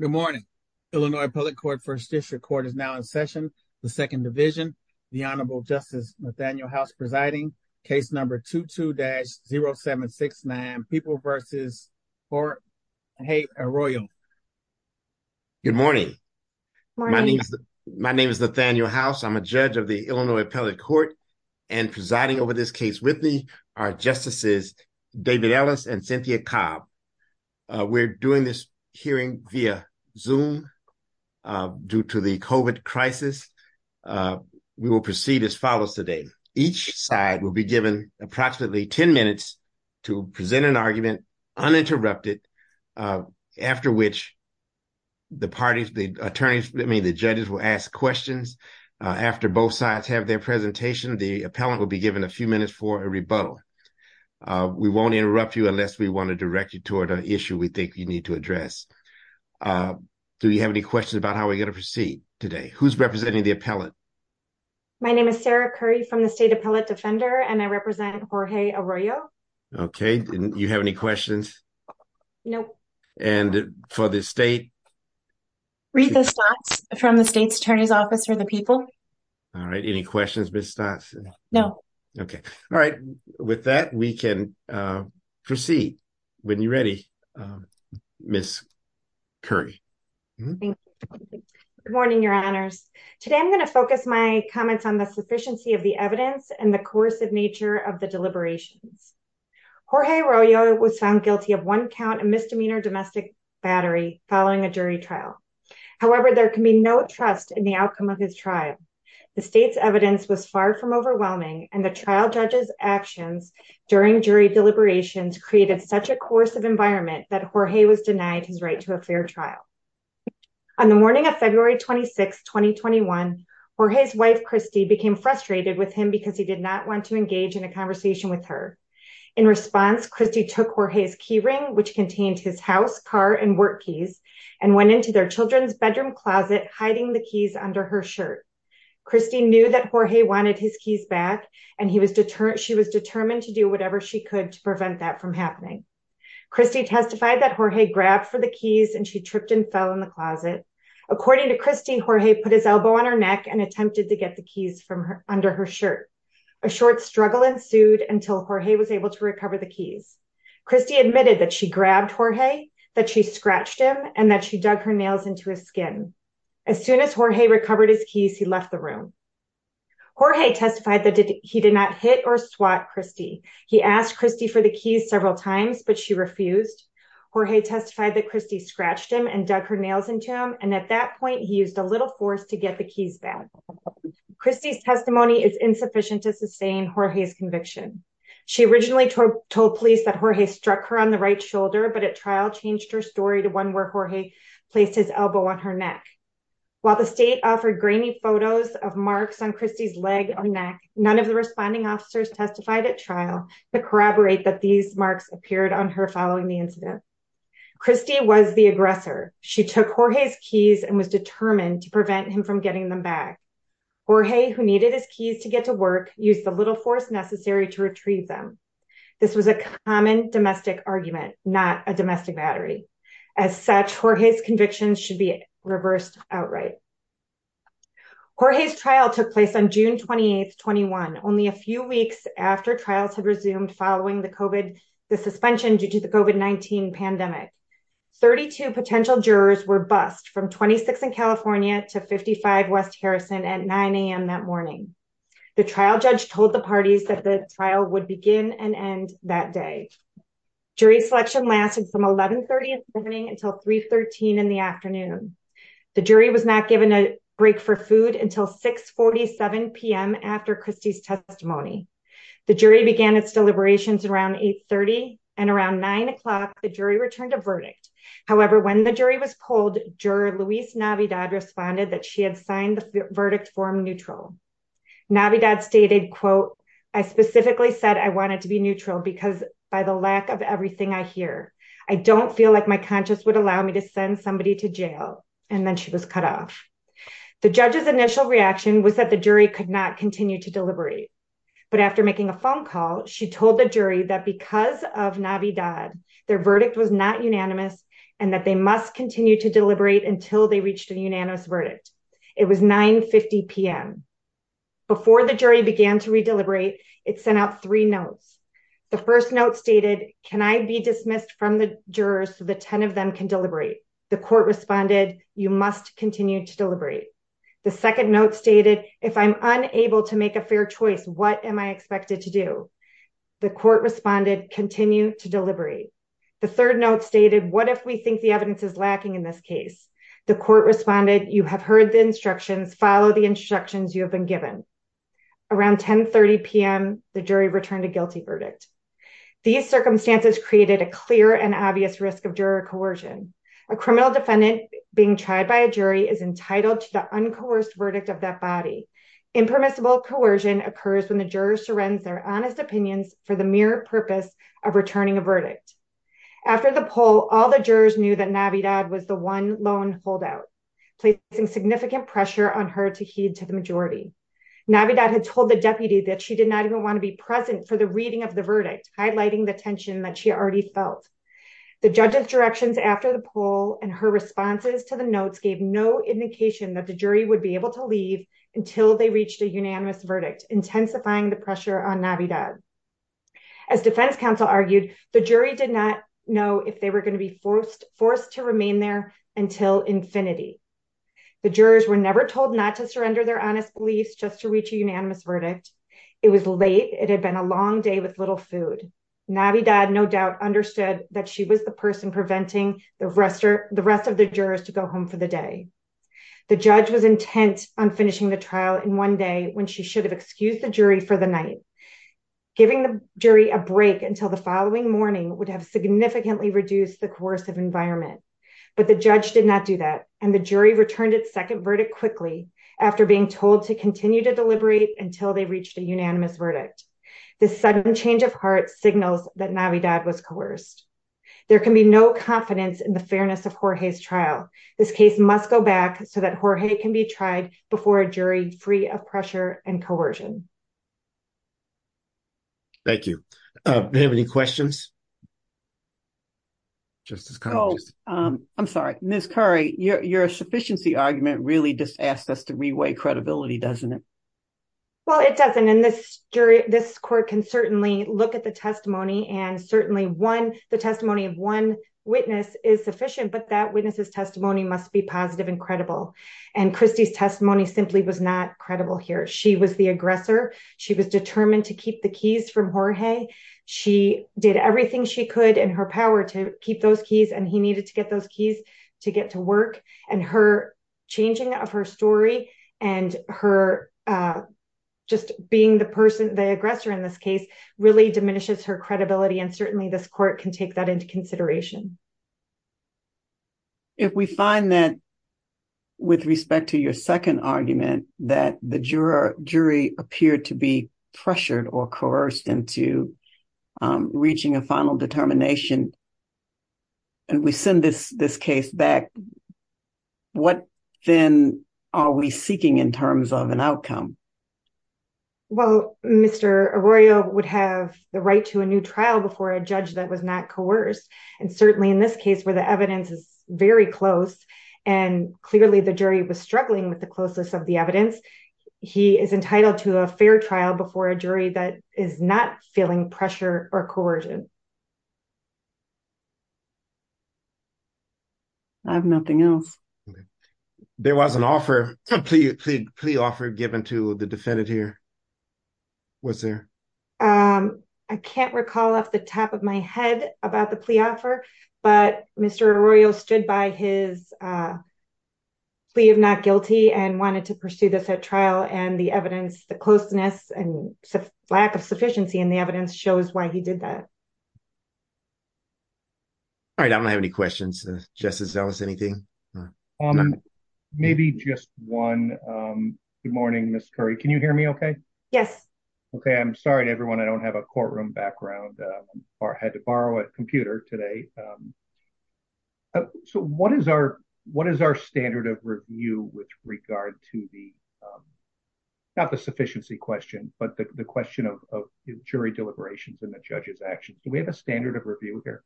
Good morning. Illinois Appellate Court First District Court is now in session. The Second Division. The Honorable Justice Nathaniel House presiding. Case number 22-0769. People v. Arroyo. Good morning. My name is Nathaniel House. I'm a judge of the Illinois Appellate Court and presiding over this case with me are Justices David Ellis and Cynthia Cobb. We're doing this hearing via Zoom due to the COVID crisis. We will proceed as follows today. Each side will be given approximately 10 minutes to present an argument uninterrupted, after which the parties, the attorneys, I mean the judges will ask questions. After both sides have their presentation, the appellant will be given a few minutes for a issue we think you need to address. Do you have any questions about how we're going to proceed today? Who's representing the appellant? My name is Sarah Curry from the State Appellate Defender and I represent Jorge Arroyo. Okay. Do you have any questions? No. And for the state? Rita Stotts from the State's Attorney's Office for the People. All right. Any questions, Ms. Stotts? No. Okay. All right. With that, we can proceed. When you're ready, Ms. Curry. Good morning, Your Honors. Today I'm going to focus my comments on the sufficiency of the evidence and the coercive nature of the deliberations. Jorge Arroyo was found guilty of one count of misdemeanor domestic battery following a jury trial. However, there can be no trust in the outcome of his trial. The state's evidence was far from overwhelming and the trial judge's actions during jury deliberations created such a coercive environment that Jorge was denied his right to a fair trial. On the morning of February 26, 2021, Jorge's wife, Christy, became frustrated with him because he did not want to engage in a conversation with her. In response, Christy took Jorge's key ring, which contained his house, car, and work keys, and went into their children's bedroom closet hiding the keys under her shirt. Christy knew that Jorge wanted his keys back and she was determined to do whatever she could to prevent that from happening. Christy testified that Jorge grabbed for the keys and she tripped and fell in the closet. According to Christy, Jorge put his elbow on her neck and attempted to get the keys from under her shirt. A short struggle ensued until Jorge was able to recover the keys. Christy admitted that she grabbed Jorge, that she scratched him, and that she dug her nails into his skin. As soon as Jorge recovered his keys, he left the room. Jorge testified that he did not hit or swat Christy. He asked Christy for the keys several times, but she refused. Jorge testified that Christy scratched him and dug her nails into him, and at that point, he used a little force to get the keys back. Christy's testimony is insufficient to sustain Jorge's conviction. She originally told police that Jorge struck her on the right shoulder, but at trial changed her story to one where Jorge placed his elbow on her neck. While the state offered grainy photos of marks on Christy's leg or neck, none of the responding officers testified at trial to corroborate that these marks appeared on her following the incident. Christy was the aggressor. She took Jorge's keys and was determined to prevent him from getting them back. Jorge, who needed his keys to get to work, used the little force necessary to retrieve them. This was a common argument, not a domestic battery. As such, Jorge's convictions should be reversed outright. Jorge's trial took place on June 28, 21, only a few weeks after trials had resumed following the suspension due to the COVID-19 pandemic. 32 potential jurors were bused from 26 in California to 55 West Harrison at 9 a.m. that morning. The trial judge told the parties that the trial would begin and end that day. Jury selection lasted from 11.30 in the morning until 3.13 in the afternoon. The jury was not given a break for food until 6.47 p.m. after Christy's testimony. The jury began its deliberations around 8.30 and around 9 o'clock, the jury returned a verdict. However, when the jury was polled, juror Luis Navidad responded that she had signed the because by the lack of everything I hear, I don't feel like my conscience would allow me to send somebody to jail. And then she was cut off. The judge's initial reaction was that the jury could not continue to deliberate. But after making a phone call, she told the jury that because of Navidad, their verdict was not unanimous and that they must continue to deliberate until they reached a unanimous verdict. It was 9.50 p.m. Before the jury began to redeliberate, it sent out three notes. The first note stated, can I be dismissed from the jurors so the 10 of them can deliberate? The court responded, you must continue to deliberate. The second note stated, if I'm unable to make a fair choice, what am I expected to do? The court responded, continue to deliberate. The third note stated, what if we think the evidence is lacking in this case? The court responded, you have heard the instructions, follow the instructions you have been given. Around 10.30 p.m., the jury returned a guilty verdict. These circumstances created a clear and obvious risk of juror coercion. A criminal defendant being tried by a jury is entitled to the uncoerced verdict of that body. Impermissible coercion occurs when the juror surrenders their honest opinions for the mere purpose of returning a verdict. After the poll, all the jurors knew that Navidad was the one lone holdout, placing significant pressure on her to leave. Navidad had told the deputy that she did not even want to be present for the reading of the verdict, highlighting the tension that she already felt. The judge's directions after the poll and her responses to the notes gave no indication that the jury would be able to leave until they reached a unanimous verdict, intensifying the pressure on Navidad. As defense counsel argued, the jury did not know if they were going to be forced to remain there until infinity. The jurors were never told not to surrender their honest beliefs just to reach a unanimous verdict. It was late. It had been a long day with little food. Navidad, no doubt, understood that she was the person preventing the rest of the jurors to go home for the day. The judge was intent on finishing the trial in one day when she should have excused the jury for the night. Giving the jury a break until the following morning would have significantly reduced the coercive environment. But the judge did not do that, and the jury returned its second verdict quickly after being told to continue to deliberate until they reached a unanimous verdict. This sudden change of heart signals that Navidad was coerced. There can be no confidence in the fairness of Jorge's trial. This case must go back so that Jorge can be tried before a jury free of pressure and coercion. Thank you. Do you have any questions? Justice Collins. I'm sorry, Ms. Curry, your sufficiency argument really just asked us to reweigh credibility, doesn't it? Well, it doesn't, and this jury, this court can certainly look at the testimony and certainly one, the testimony of one witness is sufficient, but that witness's testimony must be positive and credible. And Christie's testimony simply was not credible here. She was the aggressor. She was determined to keep the keys from Jorge. She did everything she could in her power to keep those keys, and he needed to get those keys to get to work. And her changing of her story and her just being the person, the aggressor in this case, really diminishes her credibility. And certainly this court can take that into consideration. If we find that with respect to your second argument that the jury appeared to be pressured or coerced into reaching a final determination and we send this case back, what then are we seeking in terms of an outcome? Well, Mr. Arroyo would have the right to a new trial before a judge that was not coerced. And certainly in this case where the evidence is very close and clearly the jury was struggling with the closeness of the evidence, he is entitled to a fair trial before a jury that is not feeling pressure or coercion. I have nothing else. There was an offer, a plea offer given to the defendant here. What's there? I can't recall off the top of my head about the plea offer, but Mr. Arroyo stood by his plea of not guilty and wanted to pursue this at trial and the evidence, the closeness, and lack of sufficiency in the evidence shows why he did that. All right. I don't have any questions. Justice Ellis, anything? Maybe just one. Good morning, Ms. Curry. Can you hear me okay? Yes. Okay. I'm sorry to everyone. I don't have a courtroom background or had to borrow a computer today. So what is our standard of review with regard to the, not the sufficiency question, but the question of jury deliberations and the judge's actions? Do we have a standard of review here?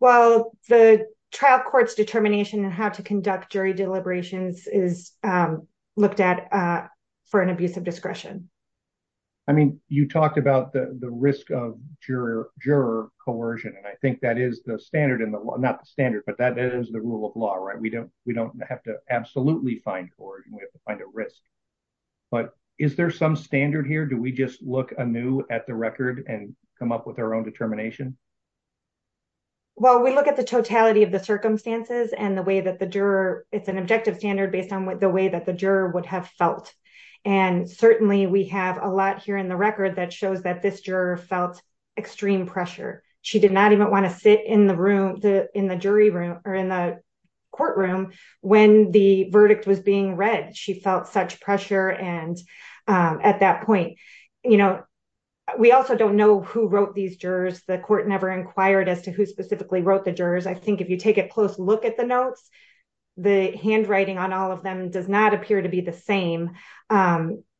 Well, the trial court's determination and how to conduct jury deliberations is looked at for an abuse of discretion. I mean, you talked about the risk of juror coercion. And I think that is the standard in the law, not the standard, but that is the rule of law, right? We don't have to absolutely find coercion. We have to find a risk, but is there some standard here? Do we just look anew at the record and come up with our own determination? Well, we look at the totality of the circumstances and the way that the juror, it's an objective standard based on the way that the juror would have felt. And certainly we have a lot here in the record that shows that this juror felt extreme pressure. She did not even want to sit in the room, in the jury room or in the courtroom when the verdict was being read. She felt such pressure. And at that point, you know, we also don't know who wrote these jurors. The court never inquired as to who specifically wrote the jurors. I think if you take a close look at the notes, the handwriting on all of them does not appear to be the same,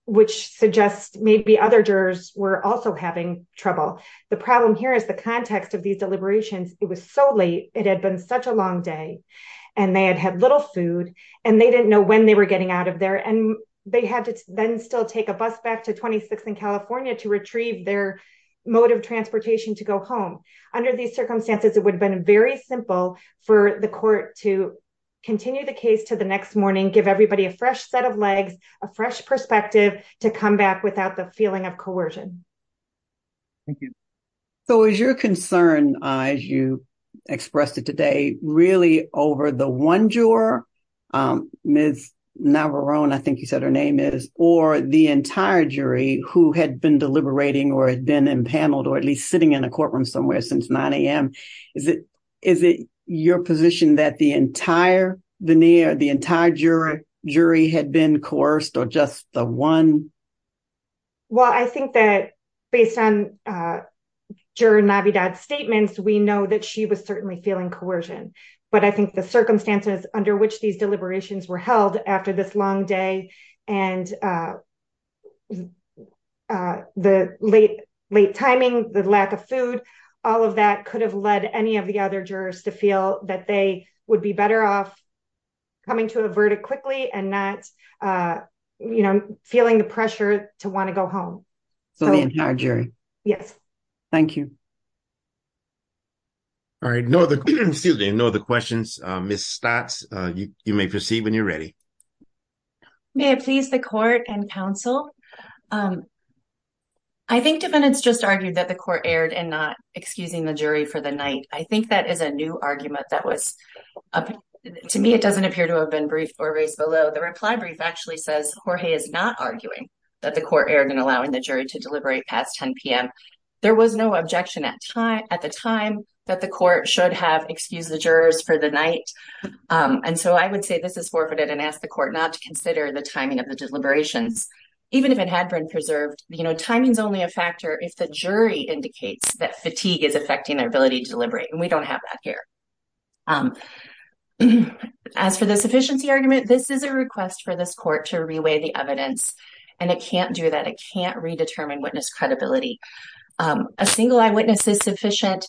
which suggests maybe other jurors were also having trouble. The problem here is the context of these deliberations. It was so late. It had been such a long day and they had had little food and they didn't know when they were getting out of there. And they had to then still take a bus back to 26th and California to retrieve their mode of transportation to go home. Under these circumstances, it would have been very simple for the court to continue the case to the next morning, give everybody a fresh set of legs, a fresh perspective to come back without the feeling of coercion. Thank you. So is your concern, as you expressed it today, really over the one juror, Ms. Navarone, I think you said her name is, or the entire jury who had been deliberating or had been impaneled or at least sitting in a courtroom somewhere since 9 a.m.? Is it your position that the entire veneer, the entire jury had been coerced or just the one? Well, I think that based on juror Navidad's statements, we know that she was certainly feeling coercion. But I think the circumstances under which these deliberations were held after this long day and the late timing, the lack of food, all of that could have led any of the other jurors to feel that they would be better off coming to a verdict quickly and not feeling the pressure to want to go home. So the entire jury? Yes. Thank you. All right. No other questions. Ms. Stott, you may proceed when you're ready. May it please the court and counsel. I think defendants just argued that the court erred in not excusing the jury for the night. I think that is a new argument that was, to me, it doesn't appear to have been briefed or raised below. The reply brief actually says Jorge is not arguing that the court erred in allowing the jury to deliberate past 10 p.m. There was no objection at the time that the court should have excused the jurors for the night. And so I would say this is forfeited and ask the court not to consider the timing of the deliberations, even if it had been preserved. Timing is only a factor if the jury indicates that fatigue is affecting their ability to deliberate, and we don't have that here. As for the sufficiency argument, this is a request for this court to reweigh the evidence, and it can't do that. It can't redetermine witness credibility. A single eyewitness is sufficient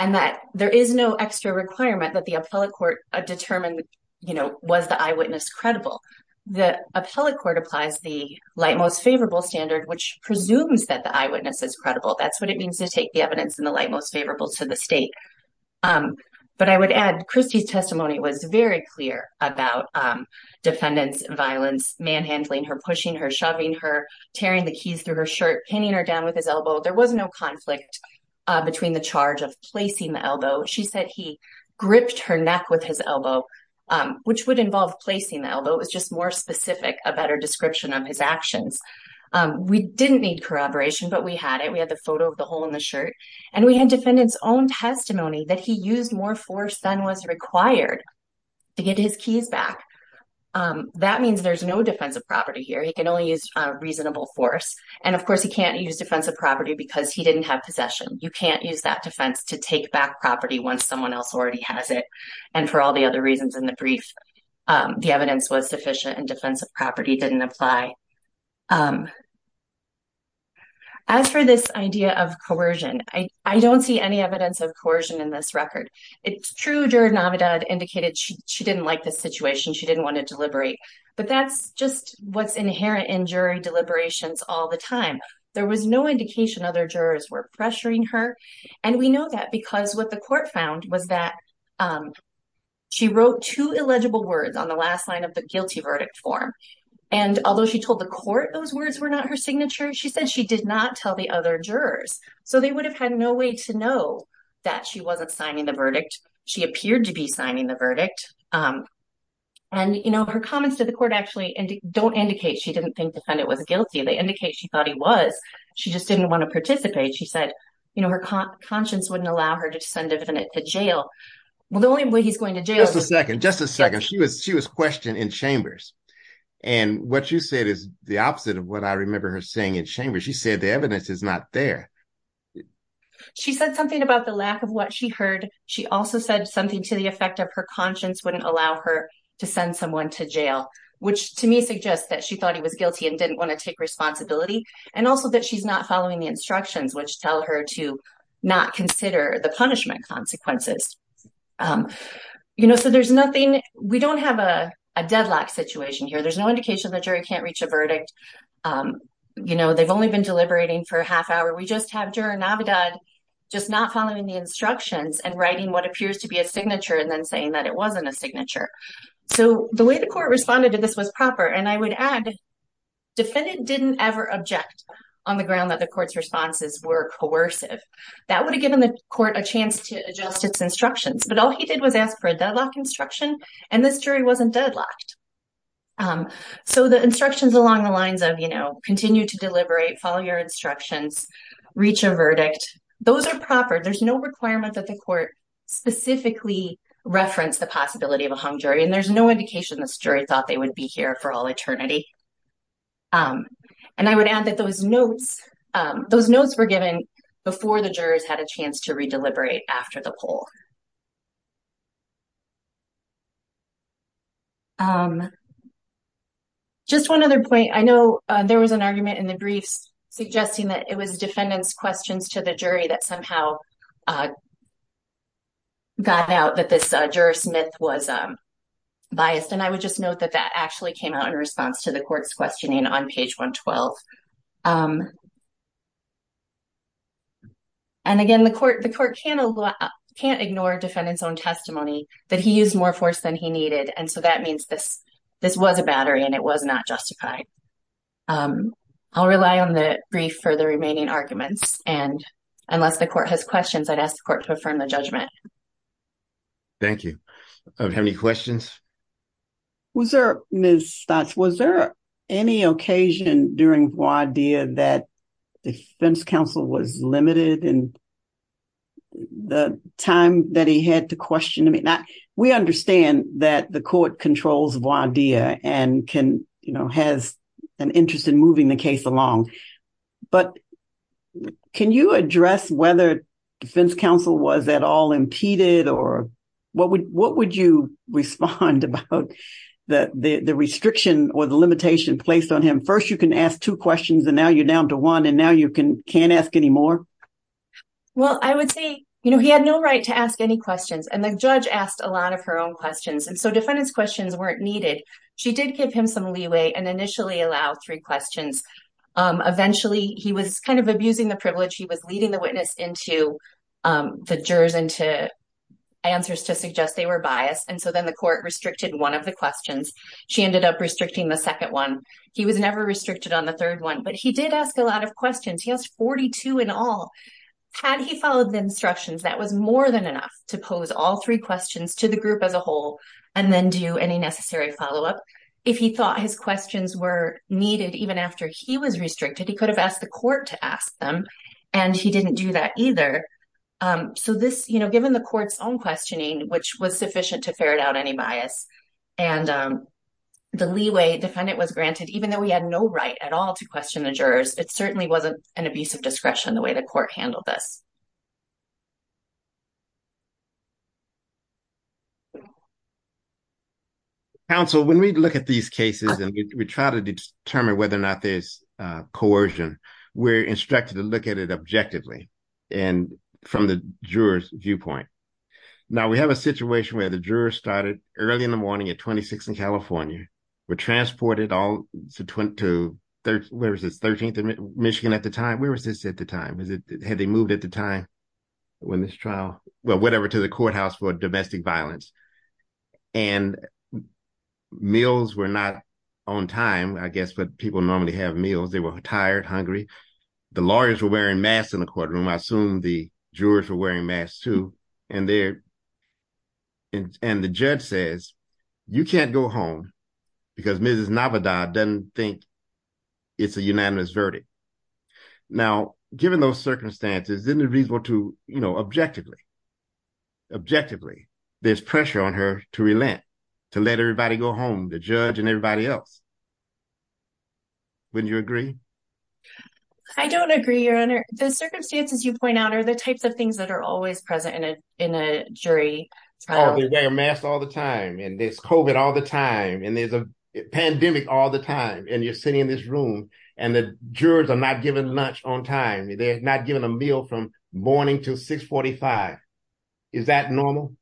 and that there is no extra requirement that the appellate court determine, you know, was the eyewitness credible. The appellate court applies the light most favorable standard, which presumes that the eyewitness is credible. That's what it means to take the evidence in the light most favorable to the state. But I would add Christie's testimony was very clear about defendants' violence, manhandling her, pushing her, shoving her, tearing the keys through her placing the elbow. She said he gripped her neck with his elbow, which would involve placing the elbow. It was just more specific, a better description of his actions. We didn't need corroboration, but we had it. We had the photo of the hole in the shirt, and we had defendants' own testimony that he used more force than was required to get his keys back. That means there's no defensive property here. He can only use reasonable force. And of course, he can't use that defense to take back property once someone else already has it. And for all the other reasons in the brief, the evidence was sufficient and defensive property didn't apply. As for this idea of coercion, I don't see any evidence of coercion in this record. It's true juror Navidad indicated she didn't like this situation. She didn't want to deliberate. But that's just what's inherent in jury deliberations all the time. There was no indication other jurors were pressuring her and we know that because what the court found was that she wrote two illegible words on the last line of the guilty verdict form. And although she told the court those words were not her signature, she said she did not tell the other jurors. So they would have had no way to know that she wasn't signing the verdict. She appeared to be signing the verdict. And her comments to the court actually don't indicate she didn't think the defendant was guilty. They indicate she thought he was. She just didn't want to participate. She said her conscience wouldn't allow her to send a defendant to jail. Well, the only way he's going to jail- Just a second. Just a second. She was questioned in chambers. And what you said is the opposite of what I remember her saying in chambers. She said the evidence is not there. She said something about the lack of what she heard. She also said something to the effect of her conscience wouldn't allow her to send someone to jail, which to me suggests that she thought he was guilty and didn't want to take responsibility. And also that she's not following the instructions, which tell her to not consider the punishment consequences. You know, so there's nothing- We don't have a deadlock situation here. There's no indication the jury can't reach a verdict. You know, they've only been deliberating for a half hour. We just have juror Navidad just not following the instructions and writing what appears to be a signature and then saying that it wasn't a signature. So the way the court responded to I would add, defendant didn't ever object on the ground that the court's responses were coercive. That would have given the court a chance to adjust its instructions. But all he did was ask for a deadlock instruction, and this jury wasn't deadlocked. So the instructions along the lines of, you know, continue to deliberate, follow your instructions, reach a verdict, those are proper. There's no requirement that the court specifically reference the possibility of a for all eternity. And I would add that those notes, those notes were given before the jurors had a chance to re-deliberate after the poll. Just one other point. I know there was an argument in the briefs suggesting that it was defendant's questions to the jury that somehow got out that juror Smith was biased. And I would just note that that actually came out in response to the court's questioning on page 112. And again, the court can't ignore defendant's own testimony that he used more force than he needed. And so that means this was a battery and it was not justified. I'll rely on the brief for the remaining arguments. And unless the court has questions, I'd ask the court to affirm the judgment. Thank you. Have any questions? Was there, Ms. Stotz, was there any occasion during voir dire that defense counsel was limited in the time that he had to question? I mean, we understand that the court controls voir dire and can, you know, has an interest in moving the case along. But can you address whether defense counsel was at all impeded or what would you respond about the restriction or the limitation placed on him? First, you can ask two questions and now you're down to one and now you can't ask any more. Well, I would say, you know, he had no right to ask any questions and the judge asked a She did give him some leeway and initially allowed three questions. Eventually, he was kind of abusing the privilege. He was leading the witness into the jurors into answers to suggest they were biased. And so then the court restricted one of the questions. She ended up restricting the second one. He was never restricted on the third one, but he did ask a lot of questions. He asked 42 in all. Had he followed the instructions, that was more than enough to pose all three questions to the group as a whole and then do any necessary follow-up. If he thought his questions were needed even after he was restricted, he could have asked the court to ask them and he didn't do that either. So this, you know, given the court's own questioning, which was sufficient to ferret out any bias and the leeway defendant was granted, even though he had no right at all to question the jurors, it certainly wasn't an abuse of discretion the way the court handled this. Counsel, when we look at these cases and we try to determine whether or not there's coercion, we're instructed to look at it objectively and from the juror's viewpoint. Now, we have a situation where the jurors started early in the morning at 26 in California, were transported all to, where is this, 13th and Michigan at the time? Where was this at the time? Had they moved at the when this trial, well, whatever to the courthouse for domestic violence. And meals were not on time, I guess, but people normally have meals. They were tired, hungry. The lawyers were wearing masks in the courtroom. I assume the jurors were wearing masks too. And the judge says, you can't go home because Mrs. Navidad doesn't think it's a unanimous verdict. Now, given those circumstances, isn't it reasonable to, objectively, there's pressure on her to relent, to let everybody go home, the judge and everybody else. Wouldn't you agree? I don't agree, your honor. The circumstances you point out are the types of things that are always present in a jury. Oh, they're wearing masks all the time and there's COVID all the time and there's a jurors are not given lunch on time. They're not given a meal from morning to 6.45. Is that normal?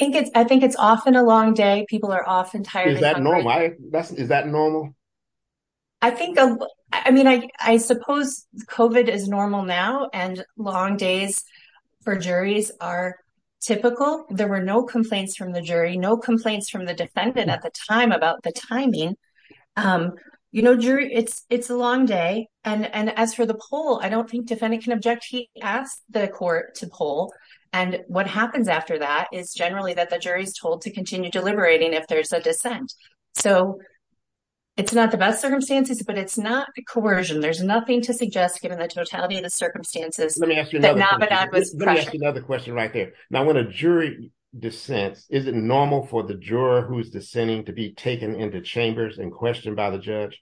I think it's often a long day. People are often tired. Is that normal? I think, I mean, I suppose COVID is normal now and long days for juries are typical. There were no complaints from the jury, no complaints from the defendant at the time about the timing. You know, jury, it's a long day. And as for the poll, I don't think defendant can object. He asked the court to poll. And what happens after that is generally that the jury's told to continue deliberating if there's a dissent. So it's not the best circumstances, but it's not coercion. There's nothing to suggest given the totality of the circumstances. Let me ask you another question right there. Now, when a jury dissents, is it normal for the chambers and questioned by the judge?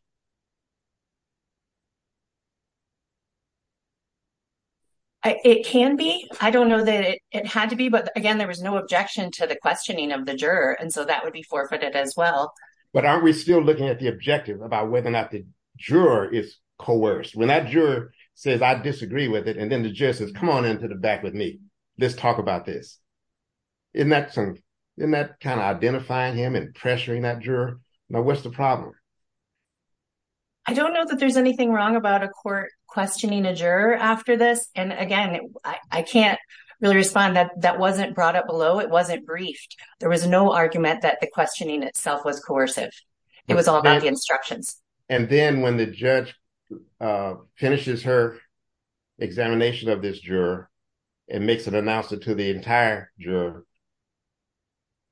It can be. I don't know that it had to be, but again, there was no objection to the questioning of the juror. And so that would be forfeited as well. But aren't we still looking at the objective about whether or not the juror is coerced? When that juror says, I disagree with it. And then the judge says, come on into the back with me. Let's talk about this. Isn't that kind of identifying him and what's the problem? I don't know that there's anything wrong about a court questioning a juror after this. And again, I can't really respond that that wasn't brought up below. It wasn't briefed. There was no argument that the questioning itself was coercive. It was all about the instructions. And then when the judge finishes her examination of this juror and makes an announcement to the entire juror,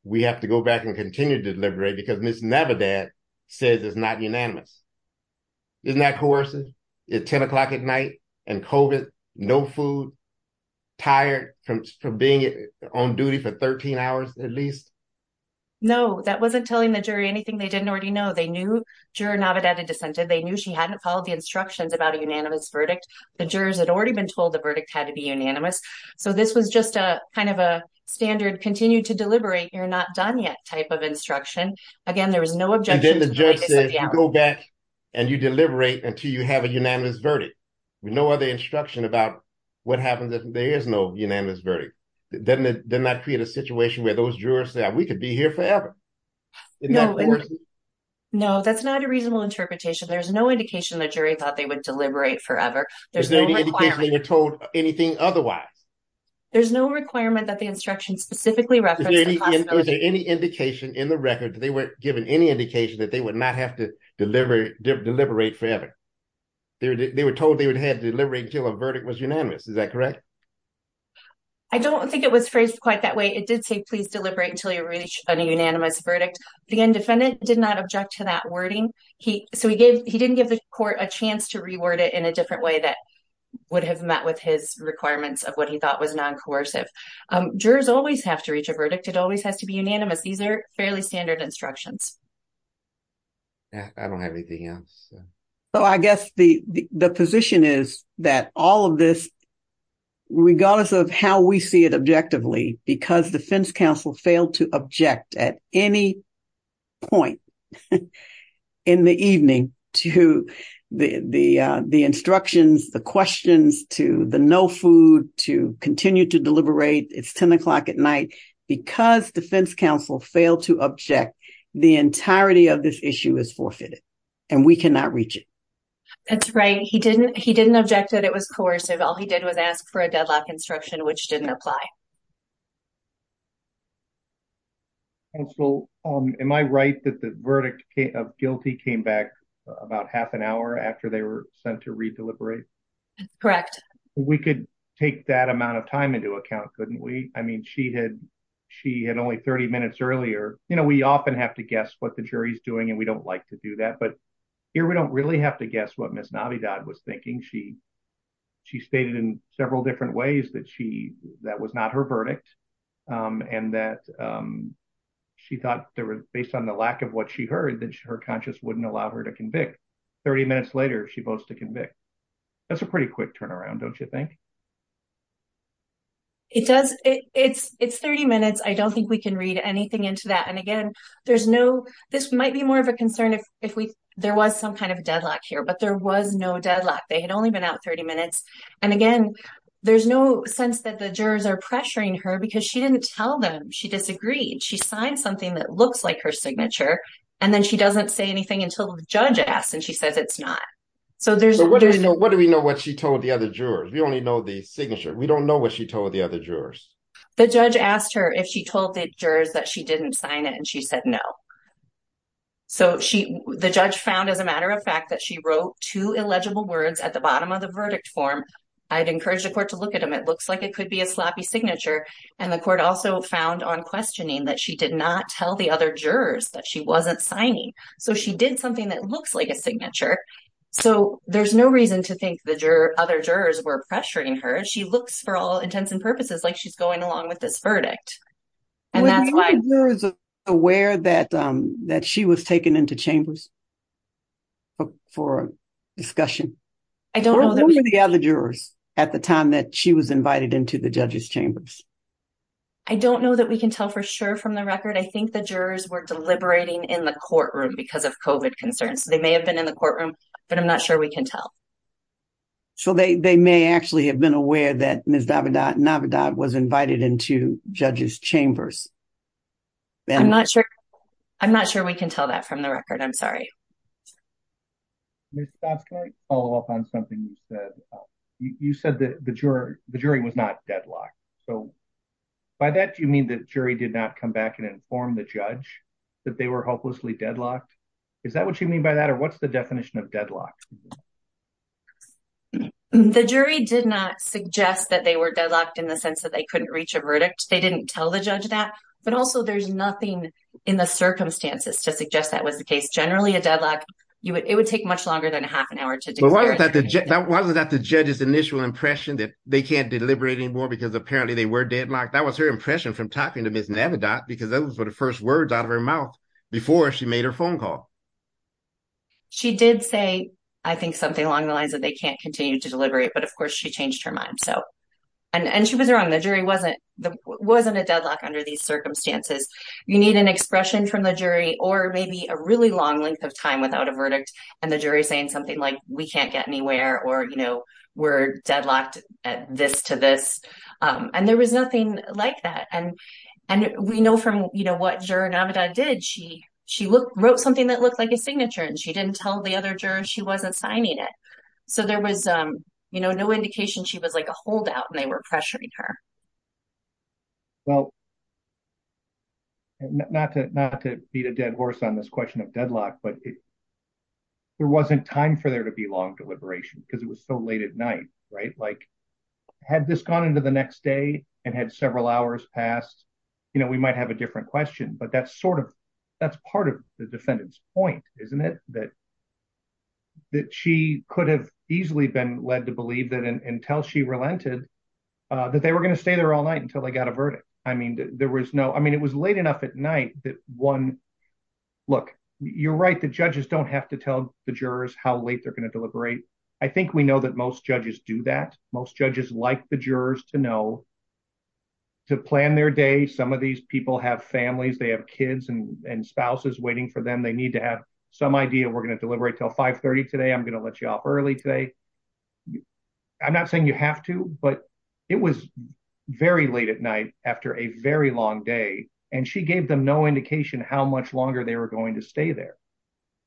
we have to go back and continue to deliberate because Ms. Navidad says it's not unanimous. Isn't that coercive? It's 10 o'clock at night and COVID, no food, tired from being on duty for 13 hours at least. No, that wasn't telling the jury anything they didn't already know. They knew juror Navidad had dissented. They knew she hadn't followed the instructions about a unanimous verdict. The jurors had already been told the verdict had to be unanimous. So this was just kind of a standard continue to deliberate, you're not done yet type of instruction. Again, there was no objection. And then the judge said, go back and you deliberate until you have a unanimous verdict. With no other instruction about what happens if there is no unanimous verdict. Doesn't that create a situation where those jurors say, we could be here forever? No, that's not a reasonable interpretation. There's no indication the jury thought they would deliberate forever. There's no requirement. Is there any indication they were told anything otherwise? There's no requirement that the instruction specifically referenced. Is there any indication in the record that they weren't given any indication that they would not have to deliberate forever? They were told they would have to deliberate until a verdict was unanimous. Is that correct? I don't think it was phrased quite that way. It did say, please deliberate until you reach a unanimous verdict. The defendant did not object to that wording. So he didn't give the court a chance to reword it in a different way that would have met his requirements of what he thought was non-coercive. Jurors always have to reach a verdict. It always has to be unanimous. These are fairly standard instructions. I don't have anything else. So I guess the position is that all of this, regardless of how we see it objectively, because defense counsel failed to object at any point in the evening to the instructions, the questions, to the no food, to continue to deliberate, it's 10 o'clock at night. Because defense counsel failed to object, the entirety of this issue is forfeited and we cannot reach it. That's right. He didn't object that it was coercive. All he did was ask for a deadlock instruction, which didn't apply. Counsel, am I right that the verdict of guilty came back about half an hour after they were sent to re-deliberate? Correct. We could take that amount of time into account, couldn't we? I mean, she had only 30 minutes earlier. We often have to guess what the jury's doing and we don't like to do that. But here we don't really have to guess what Ms. Navidad was thinking. She stated in her verdict and that she thought based on the lack of what she heard, that her conscience wouldn't allow her to convict. 30 minutes later, she votes to convict. That's a pretty quick turnaround, don't you think? It's 30 minutes. I don't think we can read anything into that. And again, this might be more of a concern if there was some kind of deadlock here, but there was no And again, there's no sense that the jurors are pressuring her because she didn't tell them. She disagreed. She signed something that looks like her signature and then she doesn't say anything until the judge asks and she says it's not. What do we know what she told the other jurors? We only know the signature. We don't know what she told the other jurors. The judge asked her if she told the jurors that she didn't sign it and she said no. So the judge found, as a matter of fact, that she wrote two illegible words at the bottom of the verdict form. I'd encourage the court to look at them. It looks like it could be a sloppy signature. And the court also found on questioning that she did not tell the other jurors that she wasn't signing. So she did something that looks like a signature. So there's no reason to think the other jurors were pressuring her. She looks for all intents and purposes like she's going along with this verdict. Were the jurors aware that she was taken into chambers for a discussion? I don't know. Who were the other jurors at the time that she was invited into the judges chambers? I don't know that we can tell for sure from the record. I think the jurors were deliberating in the courtroom because of COVID concerns. They may have been in the courtroom, but I'm not sure we can tell. So they may actually have been aware that Ms. Navidad was invited into judges chambers. I'm not sure we can tell that from the record. I'm sorry. Ms. Dodds, can I follow up on something you said? You said that the jury was not deadlocked. So by that, do you mean the jury did not come back and inform the judge that they were hopelessly deadlocked? Is that what you mean by that? Or what's the definition of deadlock? The jury did not suggest that they were deadlocked in the sense that they couldn't reach a verdict. They didn't tell the judge that. But also, there's nothing in the circumstances to suggest that was the case. Generally, a deadlock, it would take much longer than a half an hour. But wasn't that the judge's initial impression that they can't deliberate anymore because apparently they were deadlocked? That was her impression from talking to Ms. Navidad because that was the first words out of her mouth before she made her phone call. She did say, I think, something along the lines that they can't continue to deliberate. But of course, she changed her mind. And she was wrong. The jury wasn't a deadlock under these circumstances. You need an expression from the jury or maybe a really long length of time without a verdict. And the jury saying something like, we can't get anywhere or we're deadlocked at this to this. And there was nothing like that. And we know from what juror Navidad did, she wrote something that looked like a signature and she didn't tell the other jurors she wasn't signing it. So there was no indication she was like a holdout and they were pressuring her. Well, not to beat a dead horse on this question of deadlock, but there wasn't time for there to be long deliberation because it was so late at night. Like had this gone into the next day and had several hours passed, we might have a different question. But that's part of the defendant's point, isn't it? That she could have easily been led to believe that until she relented, that they were going to stay there all night until they got a verdict. I mean, it was late enough at night that one, look, you're right. The judges don't have to tell the jurors how late they're going to deliberate. I think we know that most judges do that. Most judges like the jurors to know, to plan their day. Some of these people have families, they have kids and spouses waiting for them. They need to have some idea. We're going to deliberate until 530 today. I'm going to let you off early today. I'm not saying you have to, but it was very late at night after a very long day. And she gave them no indication how much longer they were going to stay there.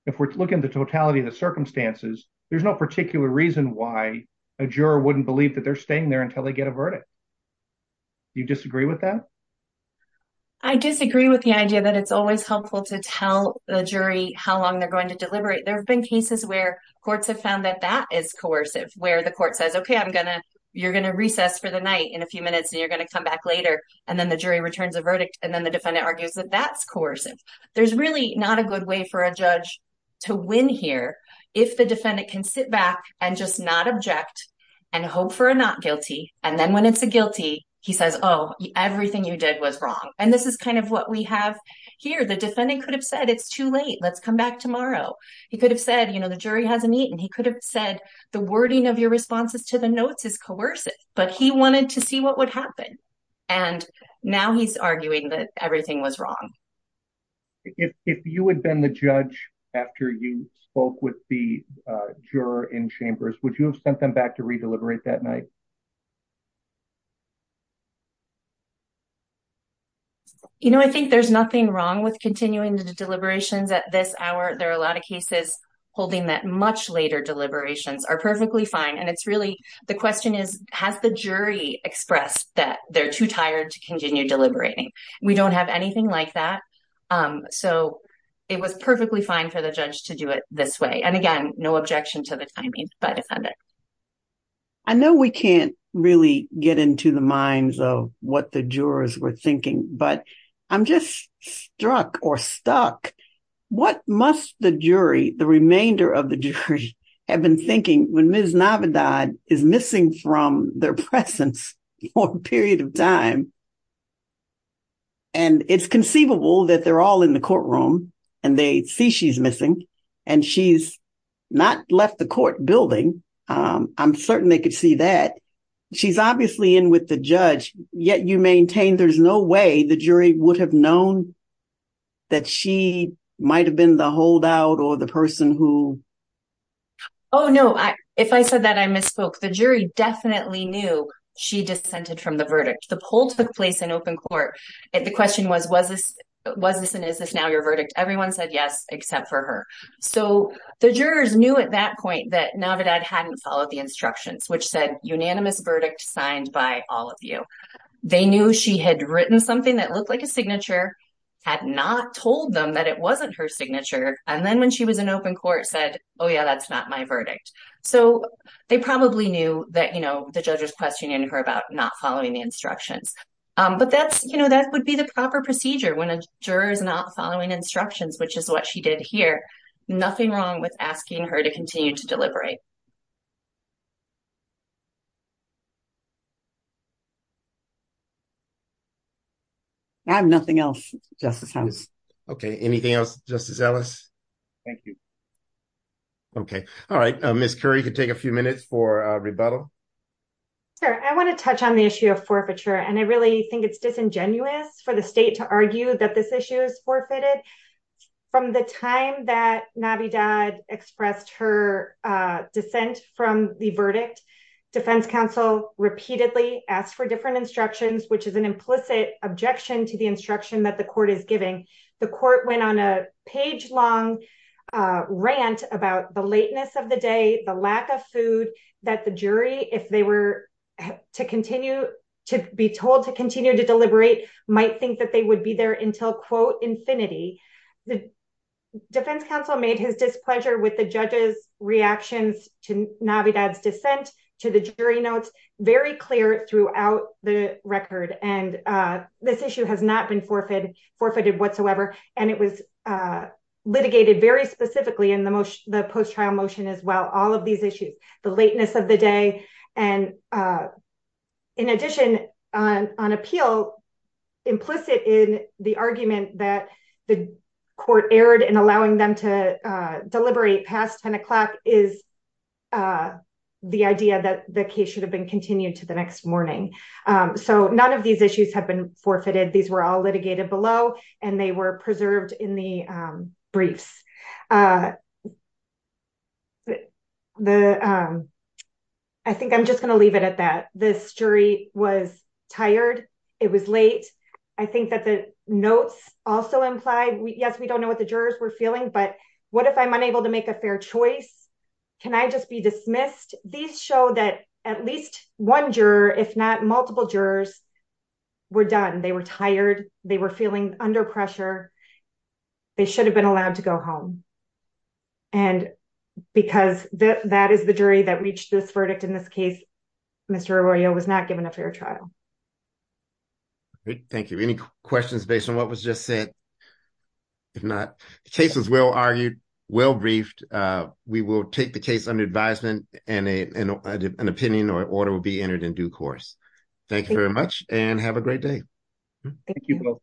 If we're looking at the totality of the circumstances, there's no particular reason why a juror wouldn't believe that they're staying there until they get a verdict. You disagree with that? I disagree with the idea that it's always helpful to tell the jury how long they're going to deliberate. There have been cases where courts have found that that is coercive, where the court says, OK, I'm going to, you're going to recess for the night in a few minutes and you're going to come back later. And then the jury returns a verdict. And then the defendant argues that that's coercive. There's really not a good way for a judge to win here if the defendant can sit back and just not object and hope for a not guilty. And then when it's a guilty, he says, oh, everything you did was wrong. And this is kind of what we have here. The defendant could have said it's too late. Let's come back tomorrow. He could have said, you know, the jury hasn't eaten. He could have said the wording of your responses to the notes is coercive, but he wanted to see what would happen. And now he's arguing that everything was wrong. If you had been the judge after you spoke with the juror in chambers, would you have sent them back to re-deliberate that night? You know, I think there's nothing wrong with continuing the deliberations at this hour. There are a lot of cases holding that much later deliberations are perfectly fine. And it's really the question is, has the jury expressed that they're too tired to continue deliberating? We don't have anything like that. So it was perfectly fine for the judge to do it this way. And again, no objection to the timing by the defendant. I know we can't really get into the minds of what the jurors were thinking, but I'm just struck or stuck. What must the jury, the remainder of the jury have been thinking when Ms. Navidad is missing from their presence for a period of time? And it's conceivable that they're all in the courtroom and they see she's missing and she's not left the court building. I'm certain they could see that. She's obviously in with the judge, yet you maintain there's no way the jury would have known that she might've been the holdout or the person who. Oh, no. If I said that I misspoke. The jury definitely knew she dissented from the verdict. The poll took place in open court. The question was, was this and is this now your verdict? Everyone said yes, except for her. So the jurors knew at that point that Navidad hadn't followed the instructions, which said unanimous verdict signed by all of you. They knew she had written something that looked like a signature, had not told them that it wasn't her signature. And then when she was in open court said, oh yeah, that's not my verdict. So they probably knew that the judge was questioning her about not following the instructions. But that would be the proper procedure when a juror is not following instructions, which is what she did here. Nothing wrong with asking her to continue to deliberate. I have nothing else, Justice Ellis. Okay. Anything else, Justice Ellis? Thank you. Okay. All right. Ms. Curry, you can take a few minutes for rebuttal. Sure. I want to touch on the issue of forfeiture. And I really think it's disingenuous for the state to argue that this issue is forfeited. From the time that Navidad expressed her dissent from the verdict, defense counsel repeatedly asked for different instructions, which is an implicit objection to the instruction that the court is giving. The court went on a page long rant about the lateness of the day, the lack of food, that the jury, if they were to continue to be told to continue to deliberate, might think that they would be there until quote, infinity. The defense counsel made his displeasure with the judge's reactions to Navidad's dissent, to the jury notes, very clear throughout the record. And this issue has not been forfeited whatsoever. And it was litigated very specifically in the post-trial motion as well, all of these issues, the lateness of the day. And in addition, on appeal, implicit in the argument that the case should have been continued to the next morning. So none of these issues have been forfeited. These were all litigated below and they were preserved in the briefs. I think I'm just going to leave it at that. This jury was tired. It was late. I think that the notes also implied, yes, we don't know what the jurors were feeling, but what if I'm unable to that at least one juror, if not multiple jurors were done, they were tired, they were feeling under pressure, they should have been allowed to go home. And because that is the jury that reached this verdict in this case, Mr. Arroyo was not given a fair trial. Thank you. Any questions based on what was just said? If not, the case was well argued, well briefed. We will take the case under advisement and an opinion or order will be entered in due course. Thank you very much and have a great day. Thank you both.